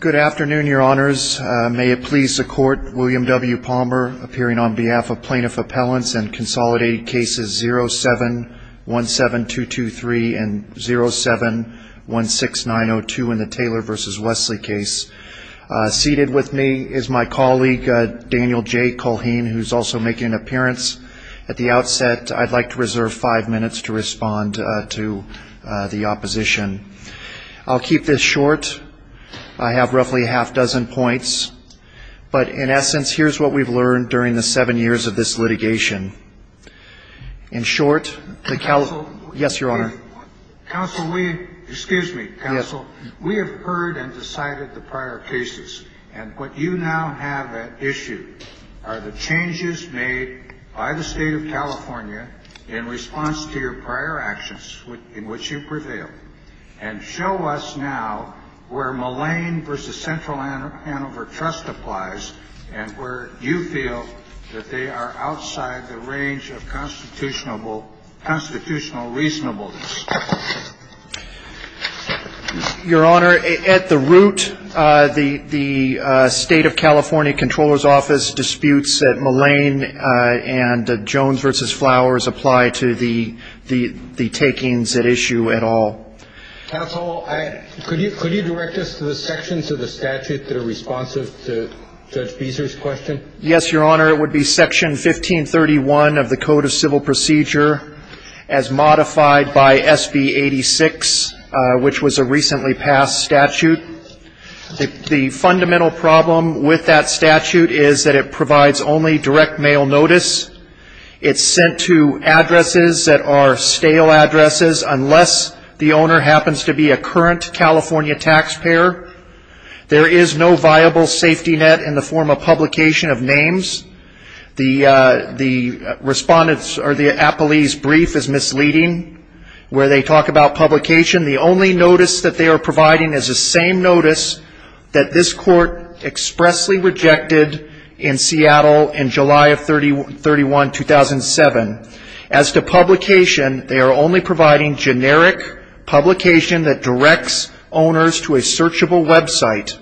Good afternoon, Your Honors. May it please the Court, William W. Palmer appearing on behalf of Plaintiff Appellants and Consolidated Cases 07-17223 and 07-16902 in the Taylor v. Westly case. Seated with me is my colleague, Daniel J. Culhane, who's also making an appearance. At the outset, I'd like to reserve five minutes to respond to the opposition. I'll keep this short. I have roughly a half-dozen points. But in essence, here's what we've learned during the seven years of this litigation. In short, the Cali — yes, Your Honor. Counsel, we — excuse me, counsel. Yes. We have heard and decided the prior cases. And what you now have at issue are the changes made by the State of California in response to your prior actions in which you prevailed. And show us now where Mullane v. Central Hanover Trust applies and where you feel that they are outside the range of constitutional reasonableness. Your Honor, at the root, the State of California Comptroller's Office disputes that Mullane and Jones v. Flowers apply to the takings at issue at all. Counsel, could you direct us to the sections of the statute that are responsive to Judge Beezer's question? Yes, Your Honor. It would be Section 1531 of the Code of Civil Procedure as modified by SB 86, which was a recently passed statute. The fundamental problem with that statute is that it provides only direct mail notice. It's sent to addresses that are stale addresses unless the owner happens to be a current California taxpayer. There is no viable safety net in the form of publication of names. The respondent's or the appellee's brief is misleading where they talk about publication. The only notice that they are providing is the same notice that this Court expressly rejected in Seattle in July of 31, 2007. As to publication, they are only providing generic publication that directs owners to a searchable website.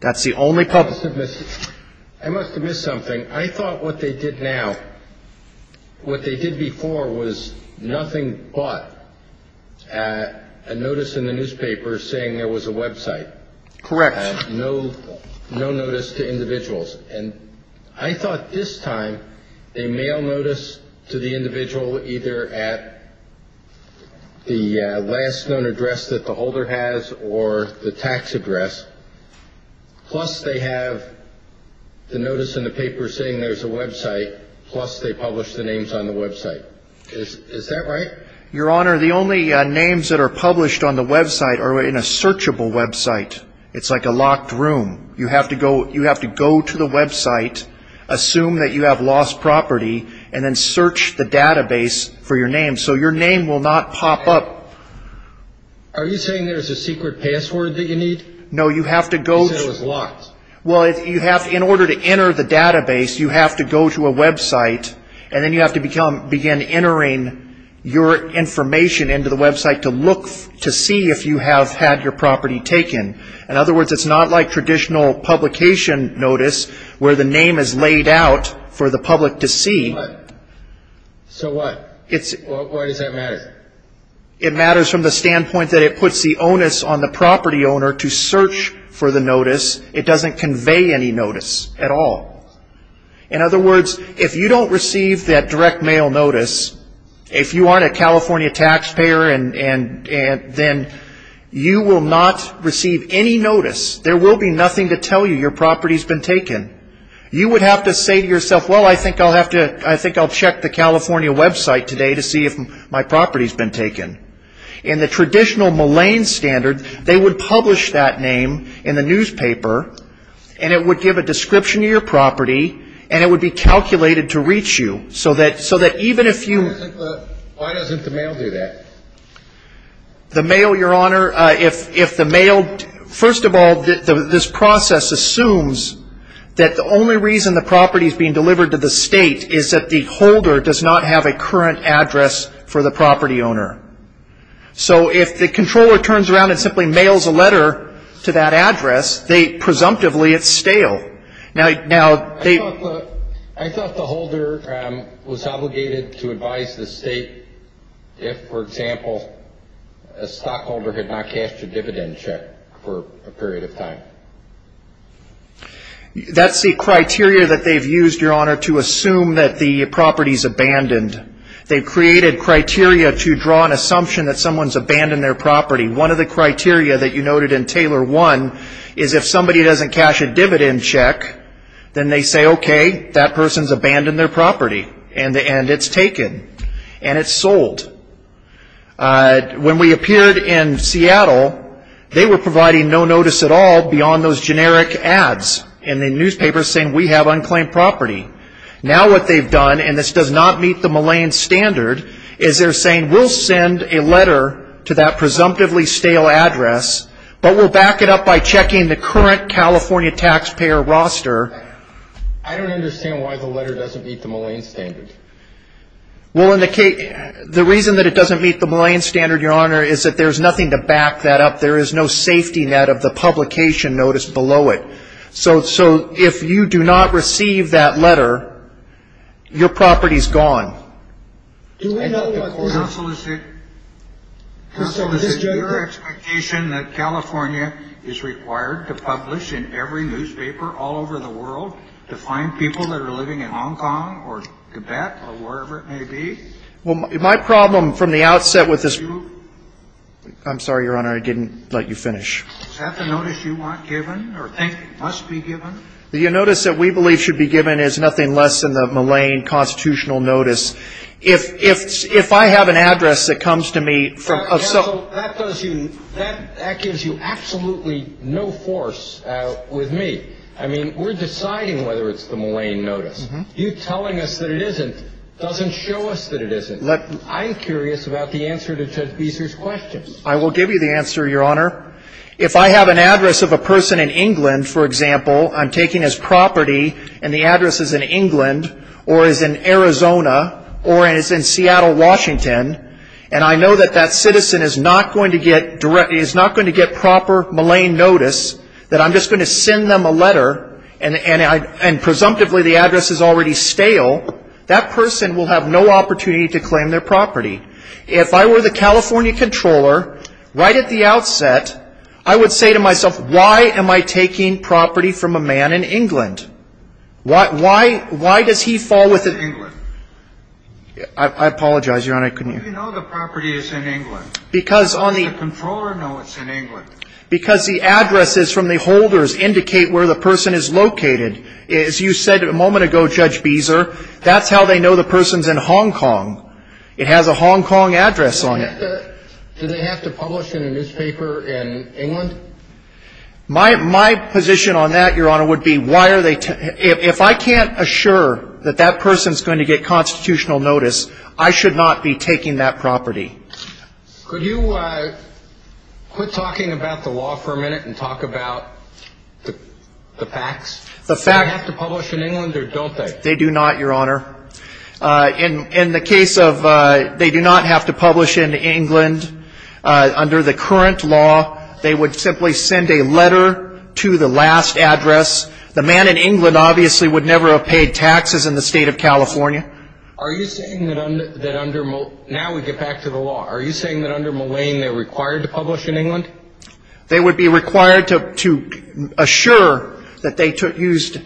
That's the only publication. I must have missed something. I thought what they did now, what they did before, was nothing but a notice in the newspaper saying there was a website. Correct. No notice to individuals. And I thought this time they mail notice to the individual either at the last known address that the holder has or the tax address, plus they have the notice in the paper saying there's a website, plus they publish the names on the website. Is that right? Your Honor, the only names that are published on the website are in a searchable website. It's like a locked room. You have to go to the website, assume that you have lost property, and then search the database for your name, so your name will not pop up. Are you saying there's a secret password that you need? No, you have to go to the... You said it was locked. Well, in order to enter the database, you have to go to a website, and then you have to begin entering your information into the website to look to see if you have had your property taken. In other words, it's not like traditional publication notice where the name is laid out for the public to see. So what? Why does that matter? It matters from the standpoint that it puts the onus on the property owner to search for the notice. It doesn't convey any notice at all. In other words, if you don't receive that direct mail notice, if you aren't a California taxpayer, then you will not receive any notice. There will be nothing to tell you your property has been taken. You would have to say to yourself, well, I think I'll check the California website today to see if my property has been taken. In the traditional Malayan standard, they would publish that name in the newspaper, and it would give a description of your property, and it would be calculated to reach you. So that even if you- Why doesn't the mail do that? The mail, Your Honor, if the mail- First of all, this process assumes that the only reason the property is being delivered to the state is that the holder does not have a current address for the property owner. So if the controller turns around and simply mails a letter to that address, presumptively it's stale. I thought the holder was obligated to advise the state if, for example, a stockholder had not cashed a dividend check for a period of time. That's the criteria that they've used, Your Honor, to assume that the property is abandoned. They've created criteria to draw an assumption that someone's abandoned their property. One of the criteria that you noted in Taylor 1 is if somebody doesn't cash a dividend check, then they say, okay, that person's abandoned their property, and it's taken, and it's sold. When we appeared in Seattle, they were providing no notice at all beyond those generic ads in the newspapers saying, we have unclaimed property. Now what they've done, and this does not meet the Malayan standard, is they're saying we'll send a letter to that presumptively stale address, but we'll back it up by checking the current California taxpayer roster. I don't understand why the letter doesn't meet the Malayan standard. Well, the reason that it doesn't meet the Malayan standard, Your Honor, is that there's nothing to back that up. There is no safety net of the publication notice below it. So if you do not receive that letter, your property is gone. Counsel, is it your expectation that California is required to publish in every newspaper all over the world to find people that are living in Hong Kong or Tibet or wherever it may be? Well, my problem from the outset with this ---- I'm sorry, Your Honor. I didn't let you finish. Is that the notice you want given or think must be given? The notice that we believe should be given is nothing less than the Malayan constitutional notice. If I have an address that comes to me from ---- Counsel, that gives you absolutely no force with me. I mean, we're deciding whether it's the Malayan notice. You telling us that it isn't doesn't show us that it isn't. I'm curious about the answer to Judge Beeser's questions. I will give you the answer, Your Honor. If I have an address of a person in England, for example, I'm taking his property and the address is in England or is in Arizona or is in Seattle, Washington, and I know that that citizen is not going to get proper Malayan notice, that I'm just going to send them a letter and presumptively the address is already stale, that person will have no opportunity to claim their property. If I were the California Comptroller, right at the outset, I would say to myself, why am I taking property from a man in England? Why does he fall within England? I apologize, Your Honor, I couldn't hear. How do you know the property is in England? How does the Comptroller know it's in England? Because the addresses from the holders indicate where the person is located. As you said a moment ago, Judge Beeser, that's how they know the person's in Hong Kong. It has a Hong Kong address on it. Do they have to publish in a newspaper in England? My position on that, Your Honor, would be why are they – if I can't assure that that person is going to get constitutional notice, I should not be taking that property. Could you quit talking about the law for a minute and talk about the facts? The facts. Do they have to publish in England or don't they? They do not, Your Honor. In the case of – they do not have to publish in England. Under the current law, they would simply send a letter to the last address. The man in England obviously would never have paid taxes in the State of California. Are you saying that under – now we get back to the law. Are you saying that under Mullane they're required to publish in England? They would be required to assure that they used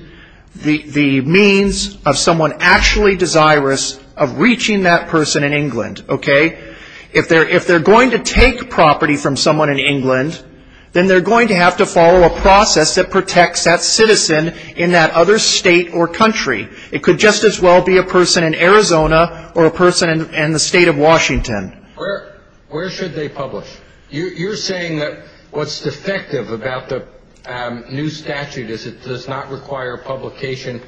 the means of someone actually desirous of reaching that person in England. Okay? If they're going to take property from someone in England, then they're going to have to follow a process that protects that citizen in that other state or country. It could just as well be a person in Arizona or a person in the State of Washington. Where should they publish? You're saying that what's defective about the new statute is it does not require publication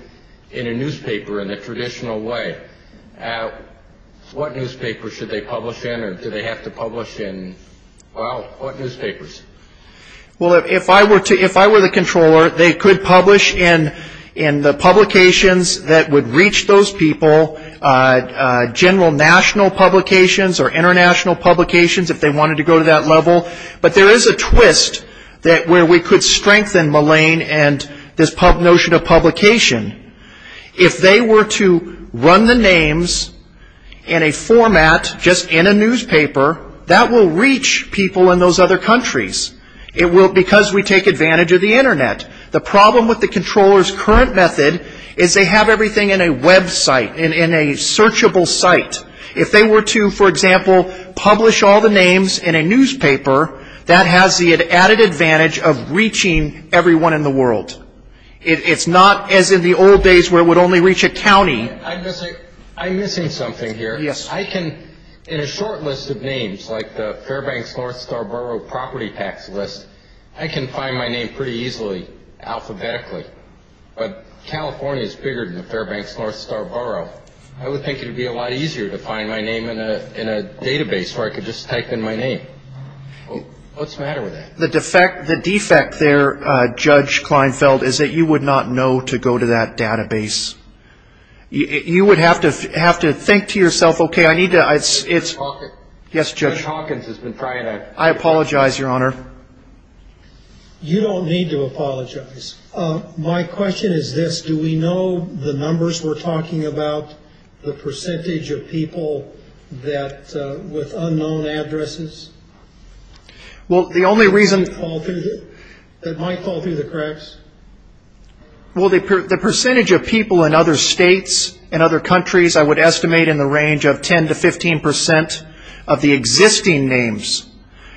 in a newspaper in the traditional way. What newspaper should they publish in or do they have to publish in? Well, what newspapers? Well, if I were the controller, they could publish in the publications that would reach those people, general national publications or international publications if they wanted to go to that level. But there is a twist where we could strengthen Mullane and this notion of publication. If they were to run the names in a format just in a newspaper, that will reach people in those other countries. It will because we take advantage of the Internet. The problem with the controller's current method is they have everything in a website, in a searchable site. If they were to, for example, publish all the names in a newspaper, that has the added advantage of reaching everyone in the world. It's not as in the old days where it would only reach a county. I'm missing something here. In a short list of names like the Fairbanks-North Star Borough property tax list, I can find my name pretty easily alphabetically. But California is bigger than the Fairbanks-North Star Borough. I would think it would be a lot easier to find my name in a database where I could just type in my name. What's the matter with that? The defect there, Judge Kleinfeld, is that you would not know to go to that database. You would have to have to think to yourself, OK, I need to. Yes, Judge. Judge Hawkins has been trying to. I apologize, Your Honor. You don't need to apologize. My question is this. Do we know the numbers we're talking about, the percentage of people with unknown addresses? Well, the only reason. That might fall through the cracks? Well, the percentage of people in other states and other countries I would estimate in the range of 10 to 15 percent of the existing names.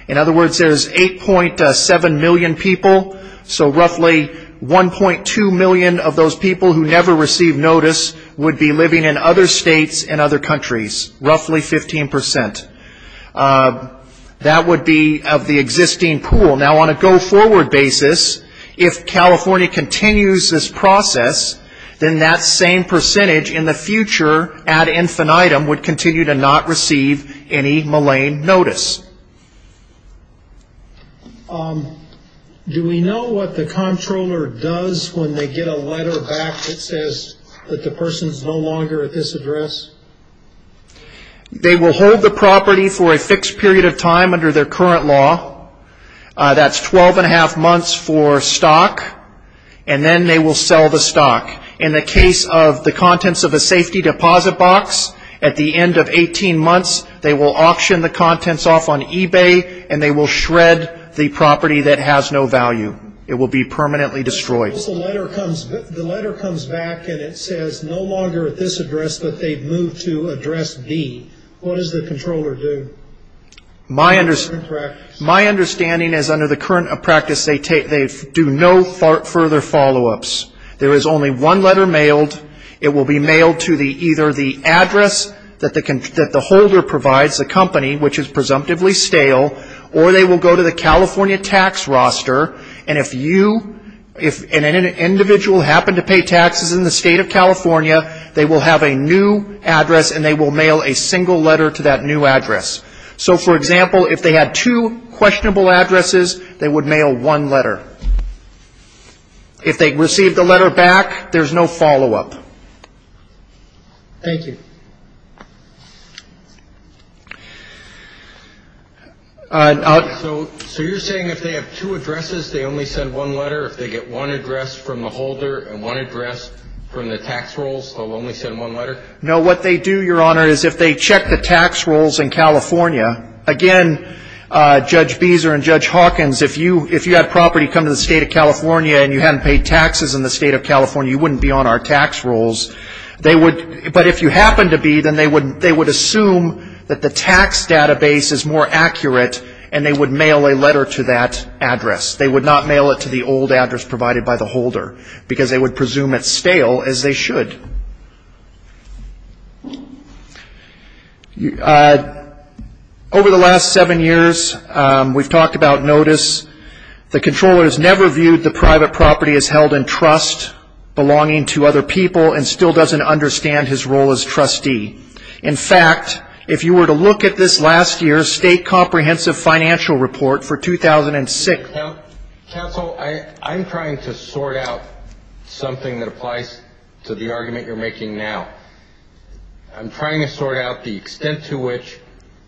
In other words, there's 8.7 million people. So roughly 1.2 million of those people who never receive notice would be living in other states and other countries, roughly 15 percent. That would be of the existing pool. Now, on a go-forward basis, if California continues this process, then that same percentage in the future ad infinitum would continue to not receive any malign notice. Do we know what the comptroller does when they get a letter back that says that the person is no longer at this address? They will hold the property for a fixed period of time under their current law. That's 12 and a half months for stock. And then they will sell the stock. In the case of the contents of a safety deposit box, at the end of 18 months, they will auction the contents off on eBay and they will shred the property that has no value. It will be permanently destroyed. What if the letter comes back and it says no longer at this address, but they've moved to address B? What does the controller do? My understanding is under the current practice, they do no further follow-ups. There is only one letter mailed. It will be mailed to either the address that the holder provides, the company, which is presumptively stale, or they will go to the California tax roster. And if you, if an individual happened to pay taxes in the state of California, they will have a new address and they will mail a single letter to that new address. So, for example, if they had two questionable addresses, they would mail one letter. If they receive the letter back, there's no follow-up. Thank you. So you're saying if they have two addresses, they only send one letter? If they get one address from the holder and one address from the tax rolls, they'll only send one letter? No, what they do, Your Honor, is if they check the tax rolls in California, again, Judge Beezer and Judge Hawkins, if you had property come to the state of California and you hadn't paid taxes in the state of California, you wouldn't be on our tax rolls. But if you happened to be, then they would assume that the tax database is more accurate and they would mail a letter to that address. They would not mail it to the old address provided by the holder because they would presume it's stale, as they should. Over the last seven years, we've talked about notice. The comptroller has never viewed the private property as held in trust, belonging to other people, and still doesn't understand his role as trustee. In fact, if you were to look at this last year's State Comprehensive Financial Report for 2006. Counsel, I'm trying to sort out something that applies to the argument you're making now. I'm trying to sort out the extent to which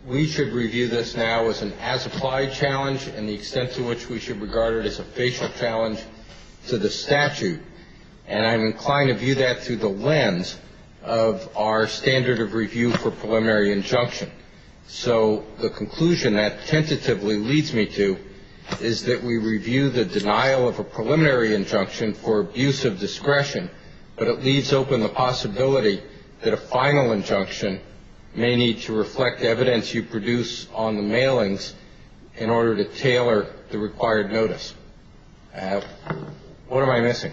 we should review this now as an as-applied challenge and the extent to which we should regard it as a facial challenge to the statute. And I'm inclined to view that through the lens of our standard of review for preliminary injunction. So the conclusion that tentatively leads me to is that we review the denial of a preliminary injunction for abuse of discretion, but it leaves open the possibility that a final injunction may need to reflect evidence you produce on the mailings in order to tailor the required notice. What am I missing?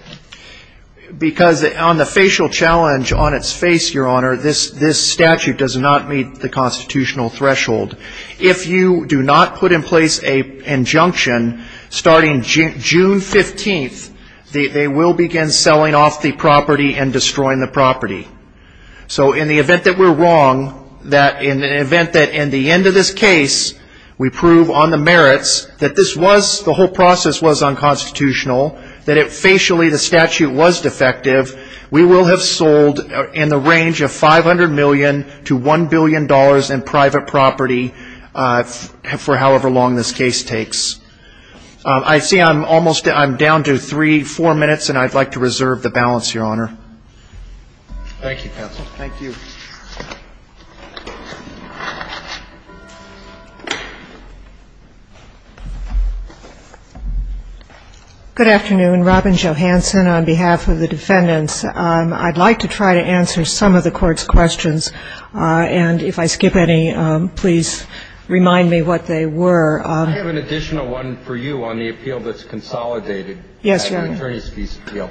Because on the facial challenge on its face, Your Honor, this statute does not meet the constitutional threshold. If you do not put in place an injunction starting June 15th, they will begin selling off the property and destroying the property. So in the event that we're wrong, that in the event that in the end of this case we prove on the merits that this was, the whole process was unconstitutional, that it facially, the statute was defective, we will have sold in the range of $500 million to $1 billion in private property for however long this case takes. I see I'm almost down to three, four minutes, and I'd like to reserve the balance, Your Honor. Thank you, counsel. Thank you. Good afternoon. Robin Johansen on behalf of the defendants. I'd like to try to answer some of the Court's questions, and if I skip any, please remind me what they were. I have an additional one for you on the appeal that's consolidated. Yes, Your Honor. The attorneys' fees appeal.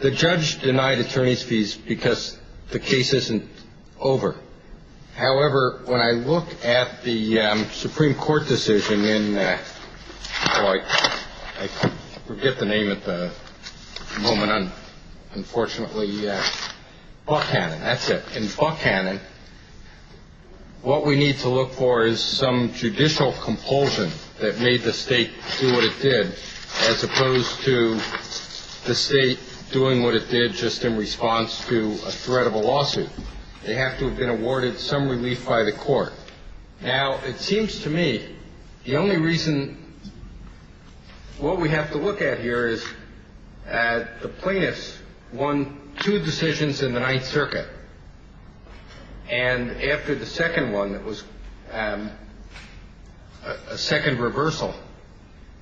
The judge denied attorneys' fees because the case isn't over. However, when I look at the Supreme Court decision in Floyd, I forget the name at the moment. Unfortunately, Buckhannon, that's it. In Buckhannon, what we need to look for is some judicial compulsion that made the State do what it did, as opposed to the State doing what it did just in response to a threat of a lawsuit. They have to have been awarded some relief by the Court. Now, it seems to me the only reason what we have to look at here is the plaintiffs won two decisions in the Ninth Circuit, and after the second one, it was a second reversal.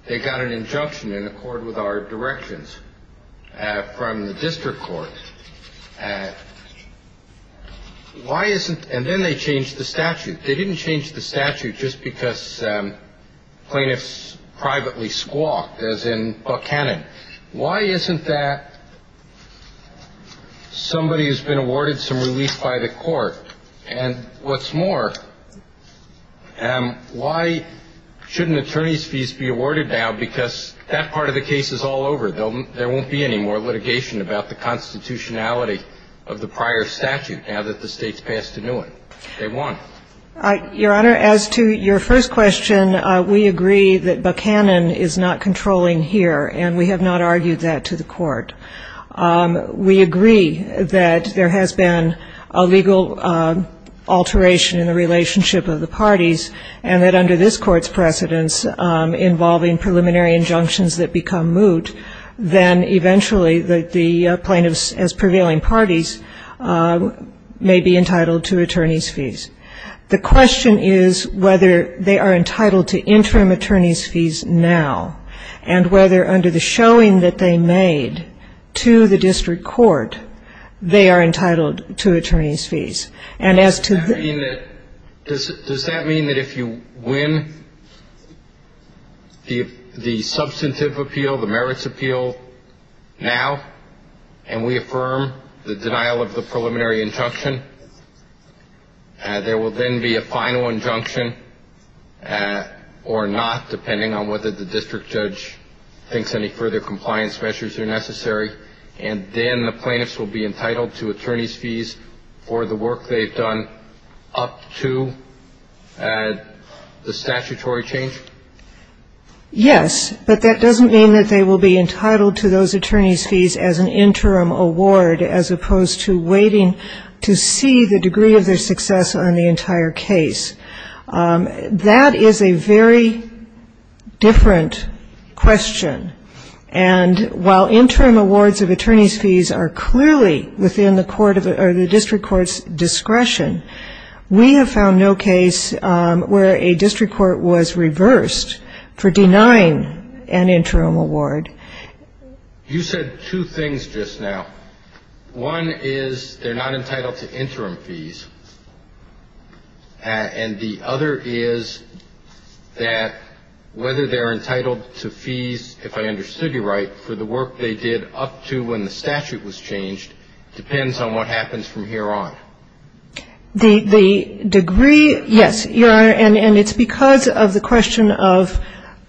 They got an injunction in accord with our directions from the district court. Why isn't – and then they changed the statute. They didn't change the statute just because plaintiffs privately squawked, as in Buckhannon. Why isn't that somebody who's been awarded some relief by the Court? And what's more, why shouldn't attorneys' fees be awarded now because that part of the case is all over. There won't be any more litigation about the constitutionality of the prior statute now that the State's passed a new one. They won. Your Honor, as to your first question, we agree that Buckhannon is not controlling here, and we have not argued that to the Court. We agree that there has been a legal alteration in the relationship of the parties, and that under this Court's precedence involving preliminary injunctions that become moot, then eventually the plaintiffs as prevailing parties may be entitled to attorneys' fees. The question is whether they are entitled to interim attorneys' fees now, and whether under the showing that they made to the district court, they are entitled to attorneys' fees. Does that mean that if you win the substantive appeal, the merits appeal now, and we affirm the denial of the preliminary injunction, there will then be a final injunction or not, depending on whether the district judge thinks any further compliance measures are necessary, and then the plaintiffs will be entitled to attorneys' fees for the work they've done up to the statutory change? Yes. But that doesn't mean that they will be entitled to those attorneys' fees as an interim award, as opposed to waiting to see the degree of their success on the entire case. That is a very different question. And while interim awards of attorneys' fees are clearly within the district court's discretion, we have found no case where a district court was reversed for denying an interim award. You said two things just now. One is they're not entitled to interim fees, and the other is that whether they're entitled to fees, if I understood you right, for the work they did up to when the statute was changed depends on what happens from here on. The degree – yes, Your Honor, and it's because of the question of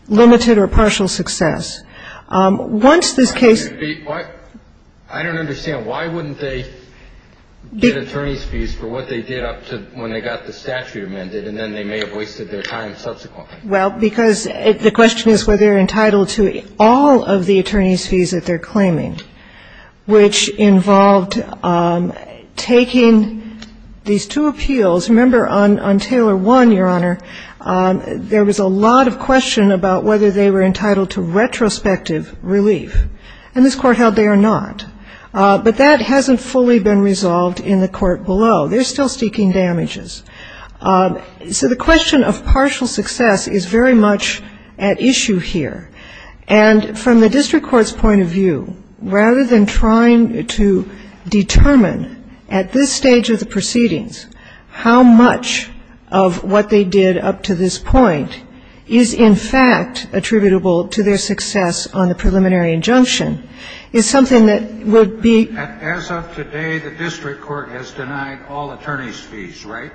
limited or partial success. Once this case – I don't understand. Why wouldn't they get attorneys' fees for what they did up to when they got the statute amended, and then they may have wasted their time subsequently? Well, because the question is whether they're entitled to all of the attorneys' fees that they're claiming, which involved taking these two appeals. Remember on Taylor 1, Your Honor, there was a lot of question about whether they were entitled to retrospective relief. And this Court held they are not. But that hasn't fully been resolved in the court below. They're still seeking damages. So the question of partial success is very much at issue here. And from the district court's point of view, rather than trying to determine at this stage of the proceedings how much of what they did up to this point is in fact attributable to their success on the preliminary injunction, is something that would be – As of today, the district court has denied all attorneys' fees, right?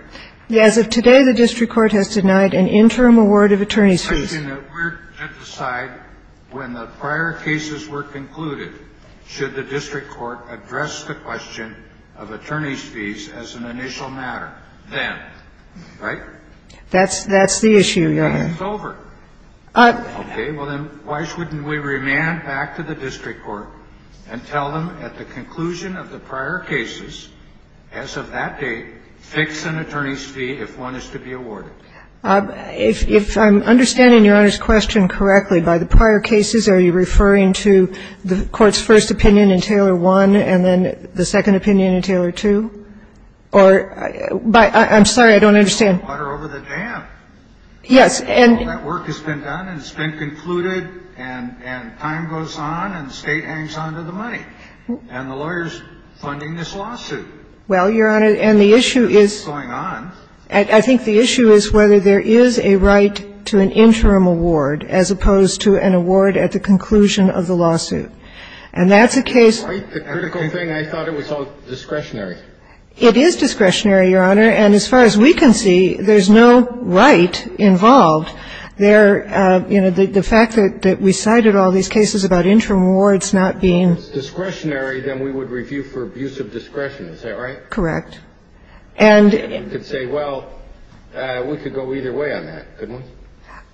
As of today, the district court has denied an interim award of attorneys' fees. We're to decide when the prior cases were concluded, should the district court address the question of attorneys' fees as an initial matter then, right? That's the issue, Your Honor. It's over. Okay. Well, then why shouldn't we remand back to the district court and tell them at the conclusion of the prior cases, as of that date, fix an attorney's fee if one is to be awarded? If I'm understanding Your Honor's question correctly, by the prior cases, are you referring to the court's first opinion in Taylor 1 and then the second opinion in Taylor 2? Or by – I'm sorry, I don't understand. Water over the dam. Yes, and – All that work has been done and it's been concluded and time goes on and the State hangs on to the money. And the lawyer's funding this lawsuit. Well, Your Honor, and the issue is – What's going on. I think the issue is whether there is a right to an interim award as opposed to an award at the conclusion of the lawsuit. And that's a case – It's quite the critical thing. I thought it was all discretionary. It is discretionary, Your Honor. And as far as we can see, there's no right involved. There – you know, the fact that we cited all these cases about interim awards not being – If it's discretionary, then we would review for abuse of discretion. Is that right? Correct. And – We could say, well, we could go either way on that, couldn't we?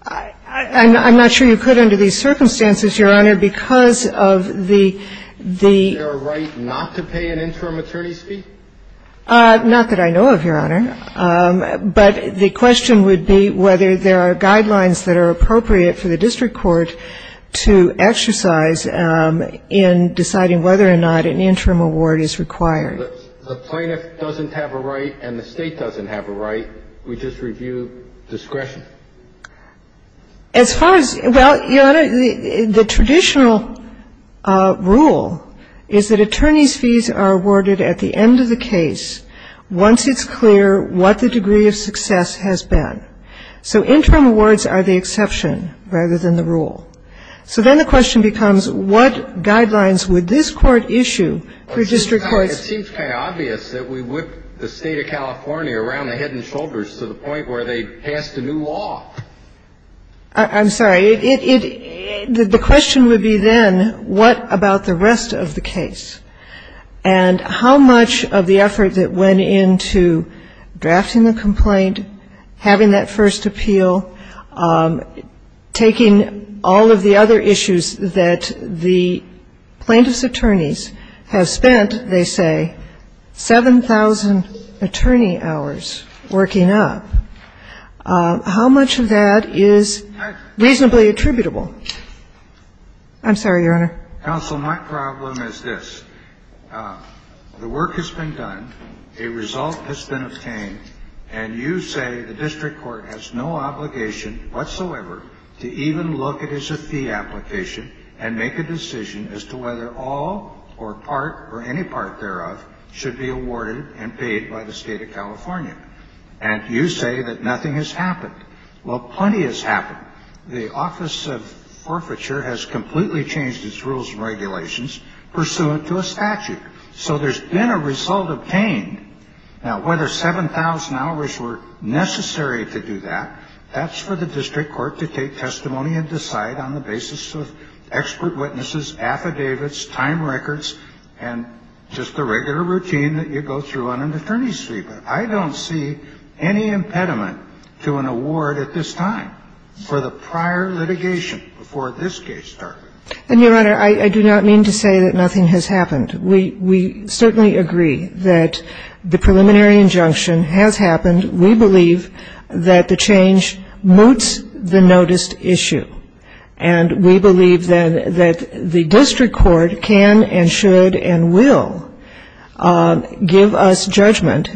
I'm not sure you could under these circumstances, Your Honor, because of the – Is there a right not to pay an interim attorney's fee? Not that I know of, Your Honor. But the question would be whether there are guidelines that are appropriate for the district court to exercise in deciding whether or not an interim award is required. The plaintiff doesn't have a right and the State doesn't have a right. We just review discretion. As far as – well, Your Honor, the traditional rule is that attorney's fees are awarded at the end of the case once it's clear what the degree of success has been. So interim awards are the exception rather than the rule. So then the question becomes what guidelines would this court issue for district courts to exercise in deciding whether or not to pay an interim attorney's fee? And it seems kind of obvious that we whip the State of California around the head and shoulders to the point where they passed a new law. I'm sorry. The question would be then what about the rest of the case? And how much of the effort that went into drafting the complaint, having that first appeal, taking all of the other issues that the plaintiff's attorneys have spent, they say, 7,000 attorney hours working up, how much of that is reasonably attributable? I'm sorry, Your Honor. Counsel, my problem is this. The work has been done. A result has been obtained. And you say the district court has no obligation whatsoever to even look at his fee application and make a decision as to whether all or part or any part thereof should be awarded and paid by the State of California. And you say that nothing has happened. Well, plenty has happened. The Office of Forfeiture has completely changed its rules and regulations pursuant to a statute. So there's been a result obtained. Now, whether 7,000 hours were necessary to do that, that's for the district court to take testimony and decide on the basis of expert witnesses, affidavits, time records, and just the regular routine that you go through on an attorney's fee. But I don't see any impediment to an award at this time for the prior litigation before this case started. And, Your Honor, I do not mean to say that nothing has happened. We certainly agree that the preliminary injunction has happened. We believe that the change moots the noticed issue. And we believe, then, that the district court can and should and will give us judgment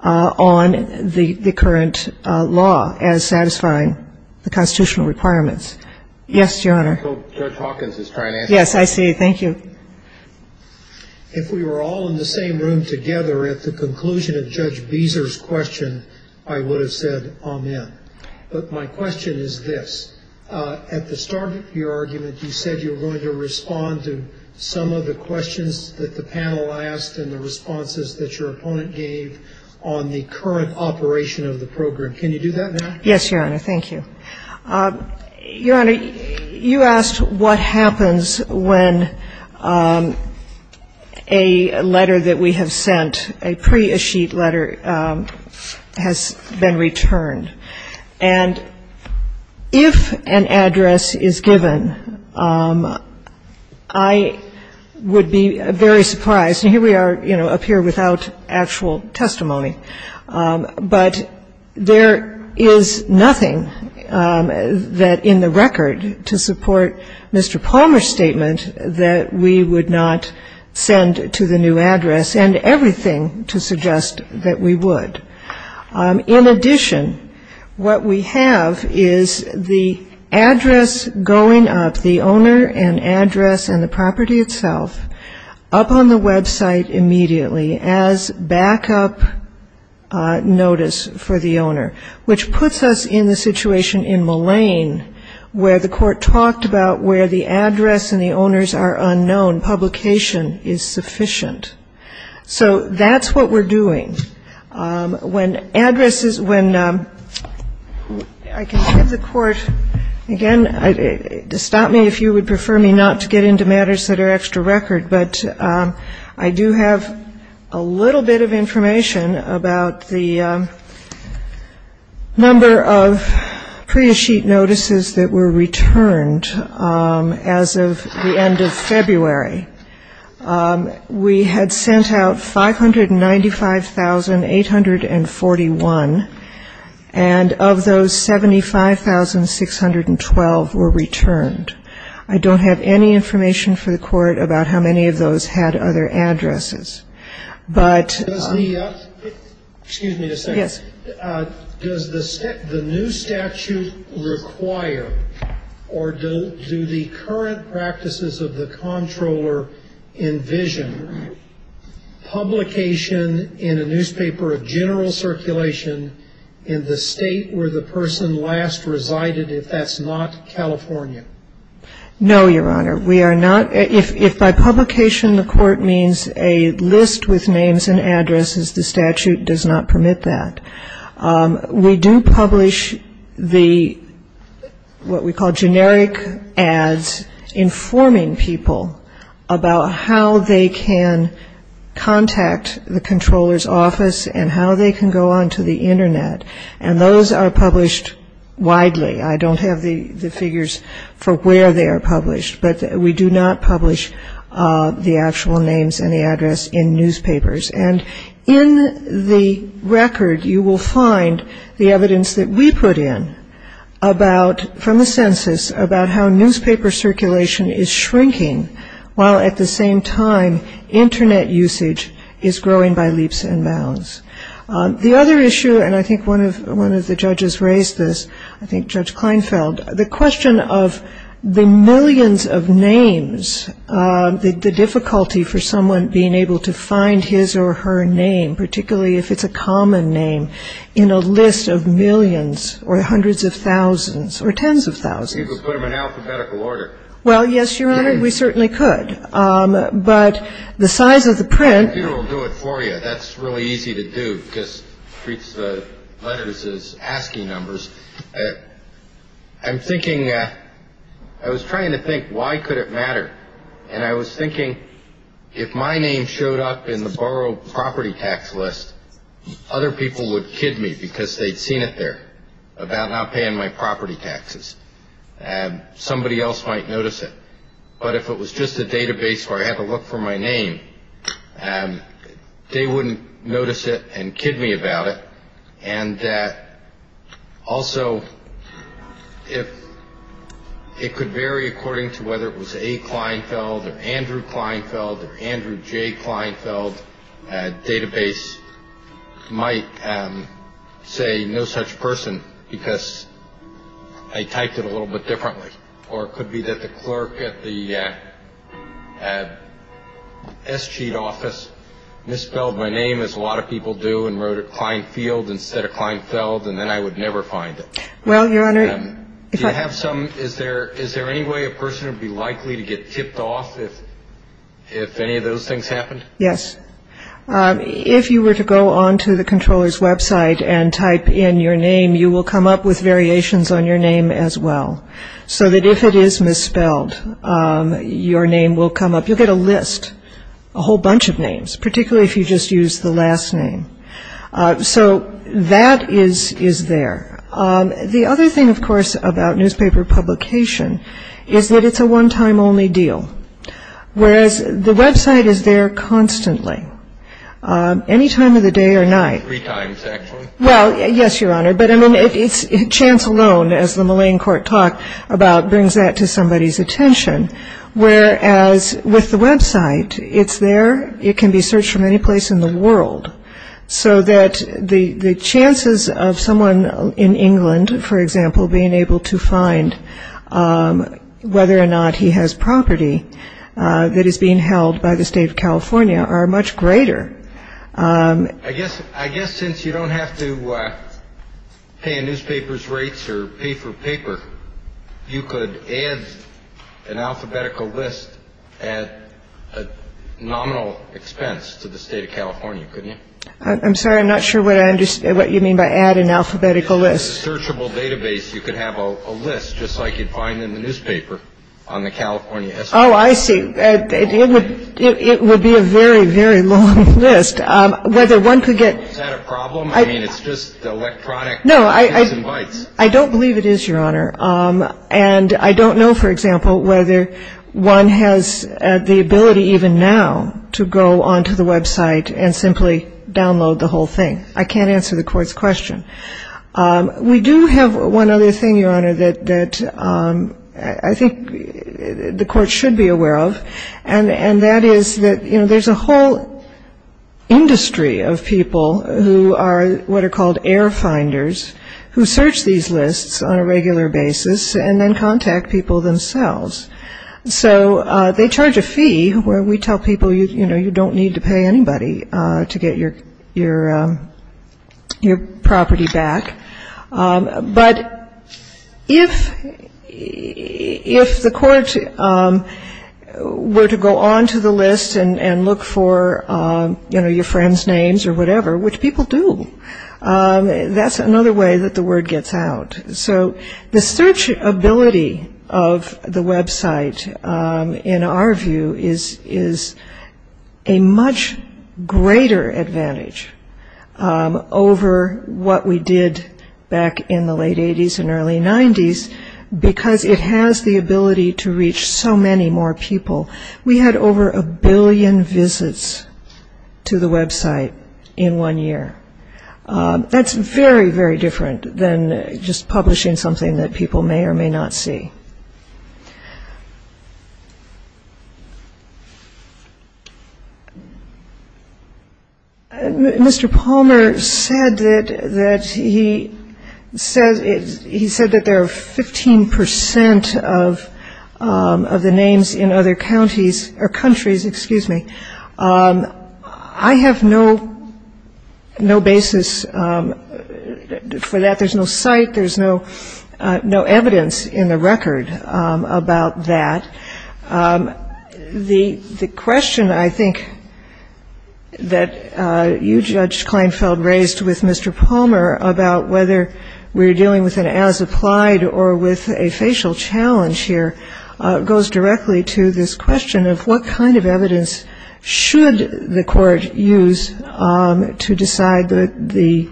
on the current law as satisfying the constitutional requirements. Yes, Your Honor. So Judge Hawkins is trying to answer that. Yes, I see. Thank you. If we were all in the same room together at the conclusion of Judge Beezer's question, I would have said amen. But my question is this. At the start of your argument, you said you were going to respond to some of the questions that the panel asked and the responses that your opponent gave on the current operation of the program. Can you do that now? Yes, Your Honor. Thank you. Your Honor, you asked what happens when a letter that we have sent, a pre-acheat letter, has been returned. And if an address is given, I would be very surprised. And here we are, you know, up here without actual testimony. But there is nothing that, in the record, to support Mr. Palmer's statement that we would not send to the new address, and everything to suggest that we would. In addition, what we have is the address going up, the owner and address and the property itself, up on the website immediately as backup notice for the owner, which puts us in the situation in Mullane, where the court talked about where the address and the owners are unknown. Publication is sufficient. So that's what we're doing. When addresses, when I can give the court, again, stop me if you would prefer me not to get into matters that are I don't have any extra record, but I do have a little bit of information about the number of pre-acheat notices that were returned as of the end of February. We had sent out 595,841, and of those, 75,612 were returned. I don't have any extra record about how many of those had other addresses. But the, excuse me a second. Does the new statute require or do the current practices of the controller envision publication in a newspaper of general circulation in the state where the person last resided, if that's not California? No, Your Honor. We are not, if by publication the court means a list with names and addresses, the statute does not permit that. We do publish the, what we call generic ads, informing people about how they can contact the controller's office and how they can go on to the Internet. And those are published widely. I don't have the figures for where they are published, but we do not publish the actual names and the address in newspapers. And in the record you will find the evidence that we put in about, from the census, about how newspaper circulation is shrinking while at the same time Internet usage is growing by leaps and bounds. The other issue, and I think one of the judges raised this, I think Judge Kleinfeld, the question of the millions of names, the difficulty for someone being able to find his or her name, particularly if it's a common name, in a list of millions or hundreds of thousands or tens of thousands. You could put them in alphabetical order. Well, yes, Your Honor, we certainly could. But the size of the print. I'm thinking, I was trying to think why could it matter. And I was thinking if my name showed up in the borrowed property tax list, other people would kid me because they'd seen it there about not paying my property taxes. And somebody else might notice it. But if it was just a database where I had to look for my name, they wouldn't notice it and kid me about it. And also, if it could vary according to whether it was a Kleinfeld or Andrew Kleinfeld or Andrew J. Kleinfeld database might say no such person because I typed in my name in the database. And so I might have typed it a little bit differently. Or it could be that the clerk at the S.G.E.A.T. office misspelled my name as a lot of people do and wrote a Kleinfeld instead of Kleinfeld. And then I would never find it. Well, Your Honor, if I have some is there is there any way a person would be likely to get tipped off if any of those things happened? Well, I mean, it's a one-time only deal. Whereas the website is there constantly. Any time of the day or night. Three times, actually. Well, yes, Your Honor. But I mean, it's chance alone, as the Mullane court does. I mean, it's a one-time only deal. But I mean, it's chance alone, as the Mullane court does. Whereas with the website, it's there. It can be searched from any place in the world. So that the chances of someone in England, for example, being able to find whether or not he has property that is being held by the state of California are much greater. I'm sorry. I'm not sure what I understand what you mean by add an alphabetical list. It's a searchable database. You could have a list just like you'd find in the newspaper on the California. Oh, I see. It would be a very, very long list. Whether one could get. Is that a problem? I mean, it's just the electronic. No, I don't believe it is, Your Honor. And I don't know, for example, whether one has the ability even now to go onto the website and simply download the whole thing. I can't answer the court's question. We do have one other thing, Your Honor, that I think the court should be aware of. And that is that, you know, there's a whole industry of people who are what are called air finders who search these lists on a regular basis. And then contact people themselves. So they charge a fee where we tell people, you know, you don't need to pay anybody to get your property back. But if the court were to go onto the list and look for, you know, your friend's names or whatever, which people do, that's another way that the word gets out. So the searchability of the website, in our view, is a much greater advantage over what we did back in the late 80s and early 90s, because it has the ability to reach so many more people. We had over a billion visits to the website in one year. That's very, very different than just publishing something that people may or may not see. Mr. Palmer said that he said that there are 15 percent of the names in other countries. I have no basis for that. There's no site. There's no evidence in the record about that. The question, I think, that you, Judge Kleinfeld, raised with Mr. Palmer about whether we're dealing with an as-applied or with a facial challenge here, goes directly to this question of what kind of evidence should the court use to decide the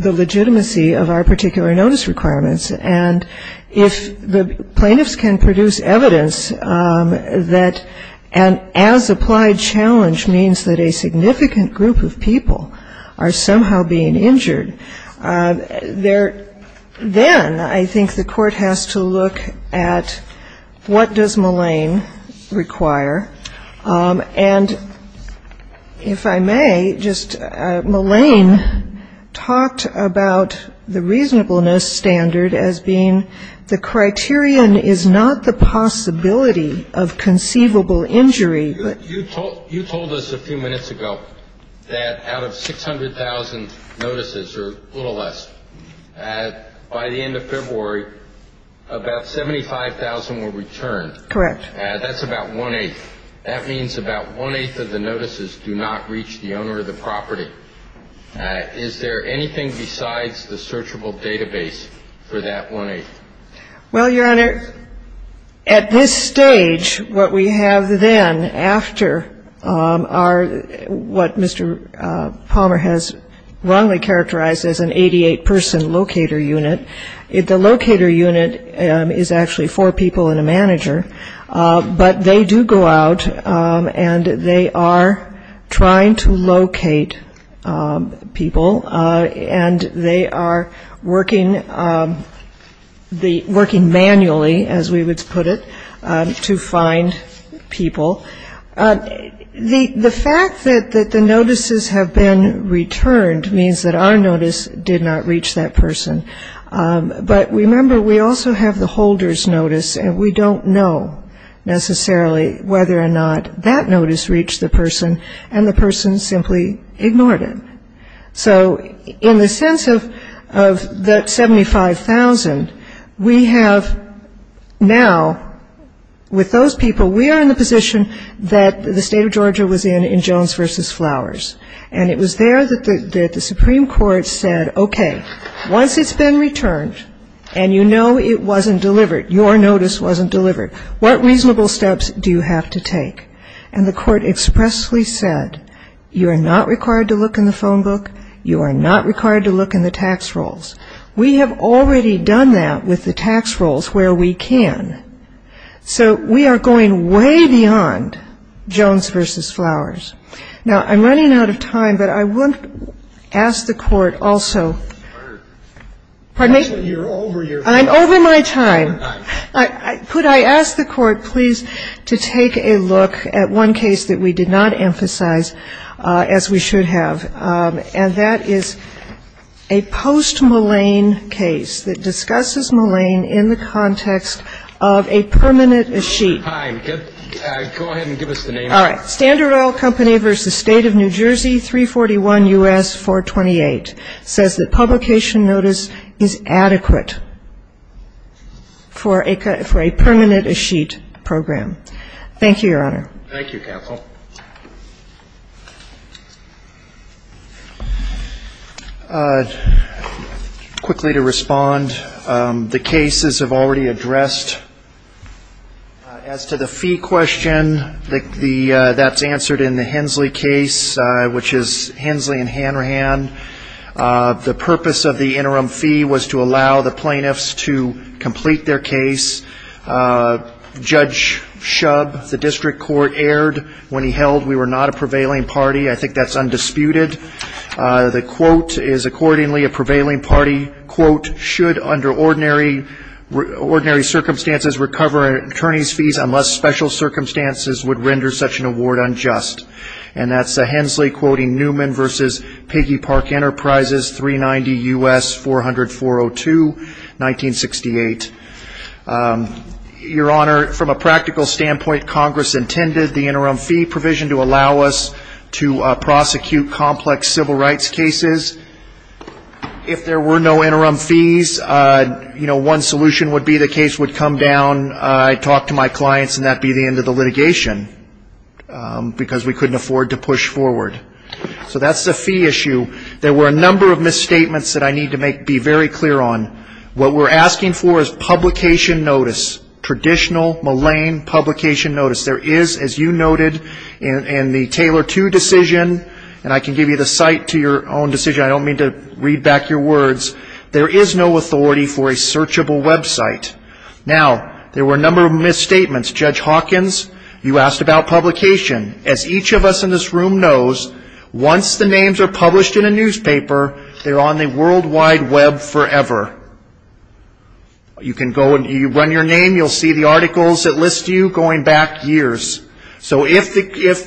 legitimacy of our particular notice requirements. And if the plaintiffs can produce evidence that an as-applied challenge means that a significant group of people are somehow being injured, then I think the court has to look at what does Mulane require. And if I may, just Mulane talked about the reasonableness standard as being the criterion is not the possibility of conceivable injury. You told us a few minutes ago that out of 600,000 notices, or a little less, by the end of February, the criteria is not the possibility of conceivable injury. That's about one-eighth. That means about one-eighth of the notices do not reach the owner of the property. Is there anything besides the searchable database for that one-eighth? Well, Your Honor, at this stage, what we have then after our — what Mr. Palmer has wrongly characterized as an 88-person locator unit, the locator unit is actually four people and a manager, but they do go out and they are trying to locate people. And they are working manually, as we would put it, to find people. The fact that the notices have been returned means that our notice did not reach that person. But remember, we also have the holder's notice, and we don't know necessarily whether or not that notice reached the person and the person simply ignored it. So in the sense of the 75,000, we have now, with those people, we are in the position that the State of Georgia was in in Jones v. Flowers. And it was there that the Supreme Court said, okay, once it's been returned and you know it wasn't delivered, your notice wasn't delivered, what reasonable steps do you have to take? And the court expressly said, you are not required to look in the phone book, you are not required to look in the tax rolls. We have already done that with the tax rolls where we can. So we are going way beyond Jones v. Flowers. Now, I'm running out of time, but I want to ask the Court also to take a look at one case that we did not emphasize as we should have, and that is a post-Mulane case that discusses Mulane in the context of a permanent escheat. All right, Standard Oil Company v. State of New Jersey, 341 U.S. 428, says that publication notice is adequate for a permanent escheat program. Thank you, Counsel. Quickly to respond, the cases have already addressed. As to the fee question, that's answered in the Hensley case, which is Hensley v. Hanrahan. The purpose of the interim fee was to allow the plaintiffs to complete their case. Judge Shub, the district court, erred when he held we were not a prevailing party. I think that's undisputed. The quote is accordingly a prevailing party. Quote, should under ordinary circumstances recover an attorney's fees unless special circumstances would render such an award unjust. And that's the Hensley quoting Newman v. Peggy Park Enterprises, 390 U.S. 400-402, 1968. Your Honor, from a practical standpoint, Congress intended the interim fee provision to allow us to prosecute complex civil rights cases. If there were no interim fees, you know, one solution would be the case would come down, I'd talk to my clients, and that would be the end of the litigation, because we couldn't afford to push forward. So that's the fee issue. There were a number of misstatements that I need to be very clear on. What we're asking for is publication notice, traditional Malayne publication notice. There is, as you noted in the Taylor 2 decision, and I can give you the site to your own decision, I don't mean to read back your words, there is no authority for a searchable website. Now, there were a number of misstatements. Judge Hawkins, you asked about publication. As each of us in this room knows, once the names are published in a newspaper, they're on the World Wide Web forever. You can go and run your name, you'll see the articles that list you going back years. So if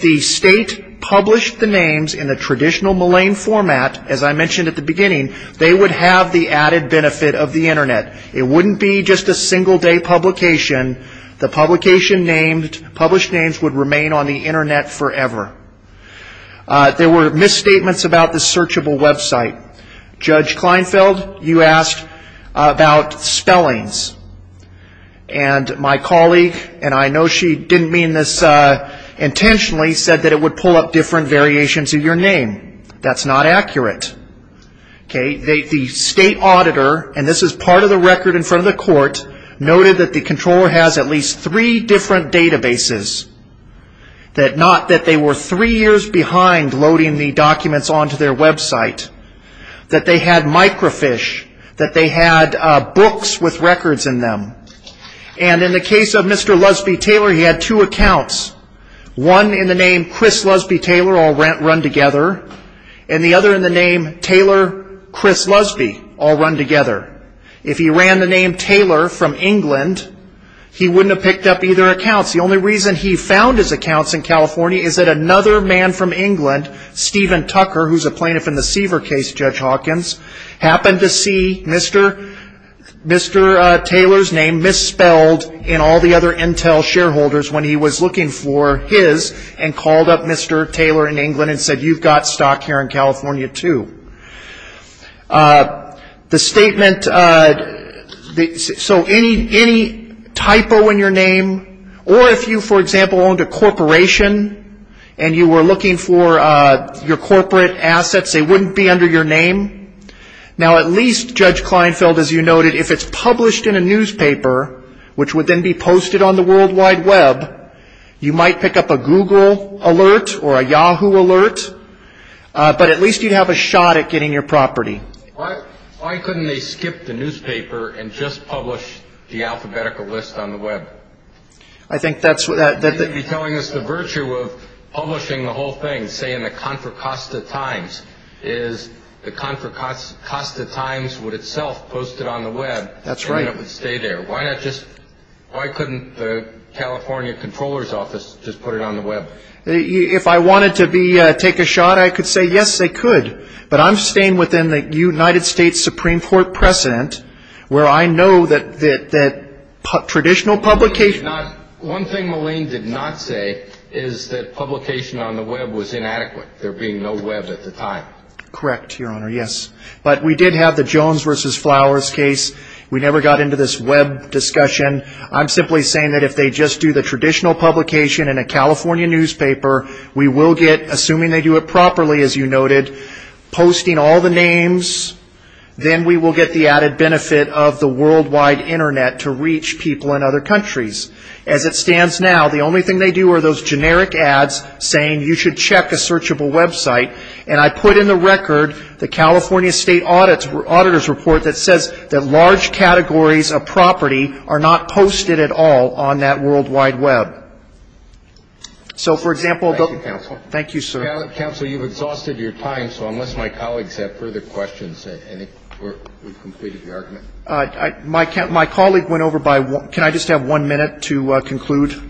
the state published the names in the traditional Malayne format, as I mentioned at the beginning, they would have the added benefit of the Internet. It wouldn't be just a single day publication. The publication names, published names would remain on the Internet forever. There were misstatements about the searchable website. There were misstatements about spellings, and my colleague, and I know she didn't mean this intentionally, said that it would pull up different variations of your name. That's not accurate. The state auditor, and this is part of the record in front of the court, noted that the controller has at least three different databases. Not that they were three years behind loading the documents onto their website. That they had microfiche, that they had books with records in them. And in the case of Mr. Lusby-Taylor, he had two accounts, one in the name Chris Lusby-Taylor, all run together, and the other in the name Taylor Chris Lusby, all run together. If he ran the name Taylor from England, he wouldn't have picked up either accounts. The only reason he found his accounts in California is that another man from England, Stephen Tucker, who's a plaintiff in the Seaver case, found his accounts in California. Stephen Tucker, who's a plaintiff in the Seaver case, Judge Hawkins, happened to see Mr. Taylor's name misspelled in all the other Intel shareholders when he was looking for his, and called up Mr. Taylor in England and said, you've got stock here in California, too. The statement, so any typo in your name, or if you, for example, owned a corporation, and you were looking for your corporate assets, they wouldn't be under your name. Now, at least, Judge Kleinfeld, as you noted, if it's published in a newspaper, which would then be posted on the World Wide Web, you might pick up a Google alert or a Yahoo alert, but at least you'd have a shot at getting your property. Why couldn't they skip the newspaper and just publish the alphabetical list on the web? I think that's what that... You may be telling us the virtue of publishing the whole thing, say, in the Contra Costa Times, is the Contra Costa Times would itself post it on the web. That's right. Why couldn't the California Comptroller's Office just put it on the web? If I wanted to take a shot, I could say, yes, they could, but I'm staying within the United States Supreme Court precedent where I know that traditional publication... One thing Malene did not say is that publication on the web was inadequate. There being no web at the time. Correct, Your Honor, yes. But we did have the Jones v. Flowers case. We never got into this web discussion. I'm simply saying that if they just do the traditional publication in a California newspaper, we will get, assuming they do it properly, as you noted, posting all the names, then we will get the added benefit of the World Wide Internet to reach people in other countries. As it stands now, the only thing they do are those generic ads saying you should check a searchable website. And I put in the record the California State Auditor's Report that says that large categories of property are not posted at all on that World Wide Web. Thank you, counsel. Counsel, you've exhausted your time, so unless my colleagues have further questions, I think we've completed the argument. My colleague went over by... Can I just have one minute to conclude?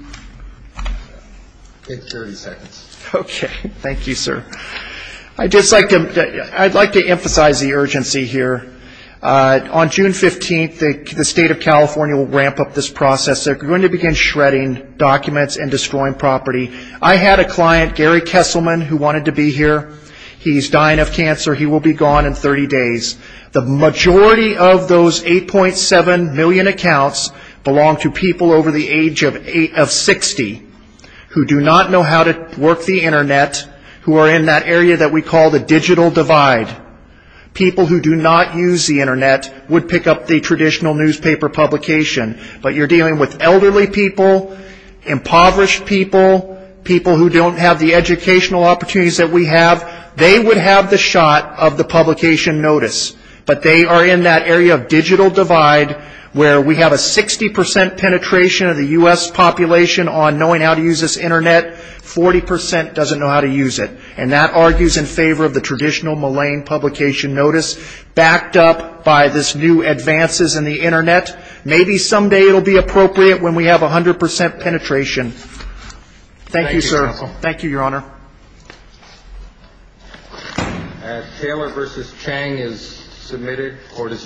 Take 30 seconds. Okay. Thank you, sir. I'd like to emphasize the urgency here. On June 15th, the State of California will ramp up this process. They're going to begin shredding documents and destroying property. I had a client, Gary Kesselman, who wanted to be here. He's dying of cancer. He will be gone in 30 days. The majority of those 8.7 million accounts belong to people over the age of 60 who do not know how to work the Internet, who are in that area that we call the digital divide. People who do not use the Internet would pick up the traditional newspaper publication. But you're dealing with elderly people, impoverished people, people who don't have the educational opportunities that we have. They would have the shot of the publication notice, but they are in that area of digital divide, where we have a 60% penetration of the U.S. population on knowing how to use this Internet. 40% doesn't know how to use it. And that argues in favor of the traditional malign publication notice, backed up by this new advances in the Internet. Maybe someday it will be appropriate when we have 100% penetration. Thank you, sir. Thank you, Your Honor. Taylor v. Chang is submitted. Court is adjourned.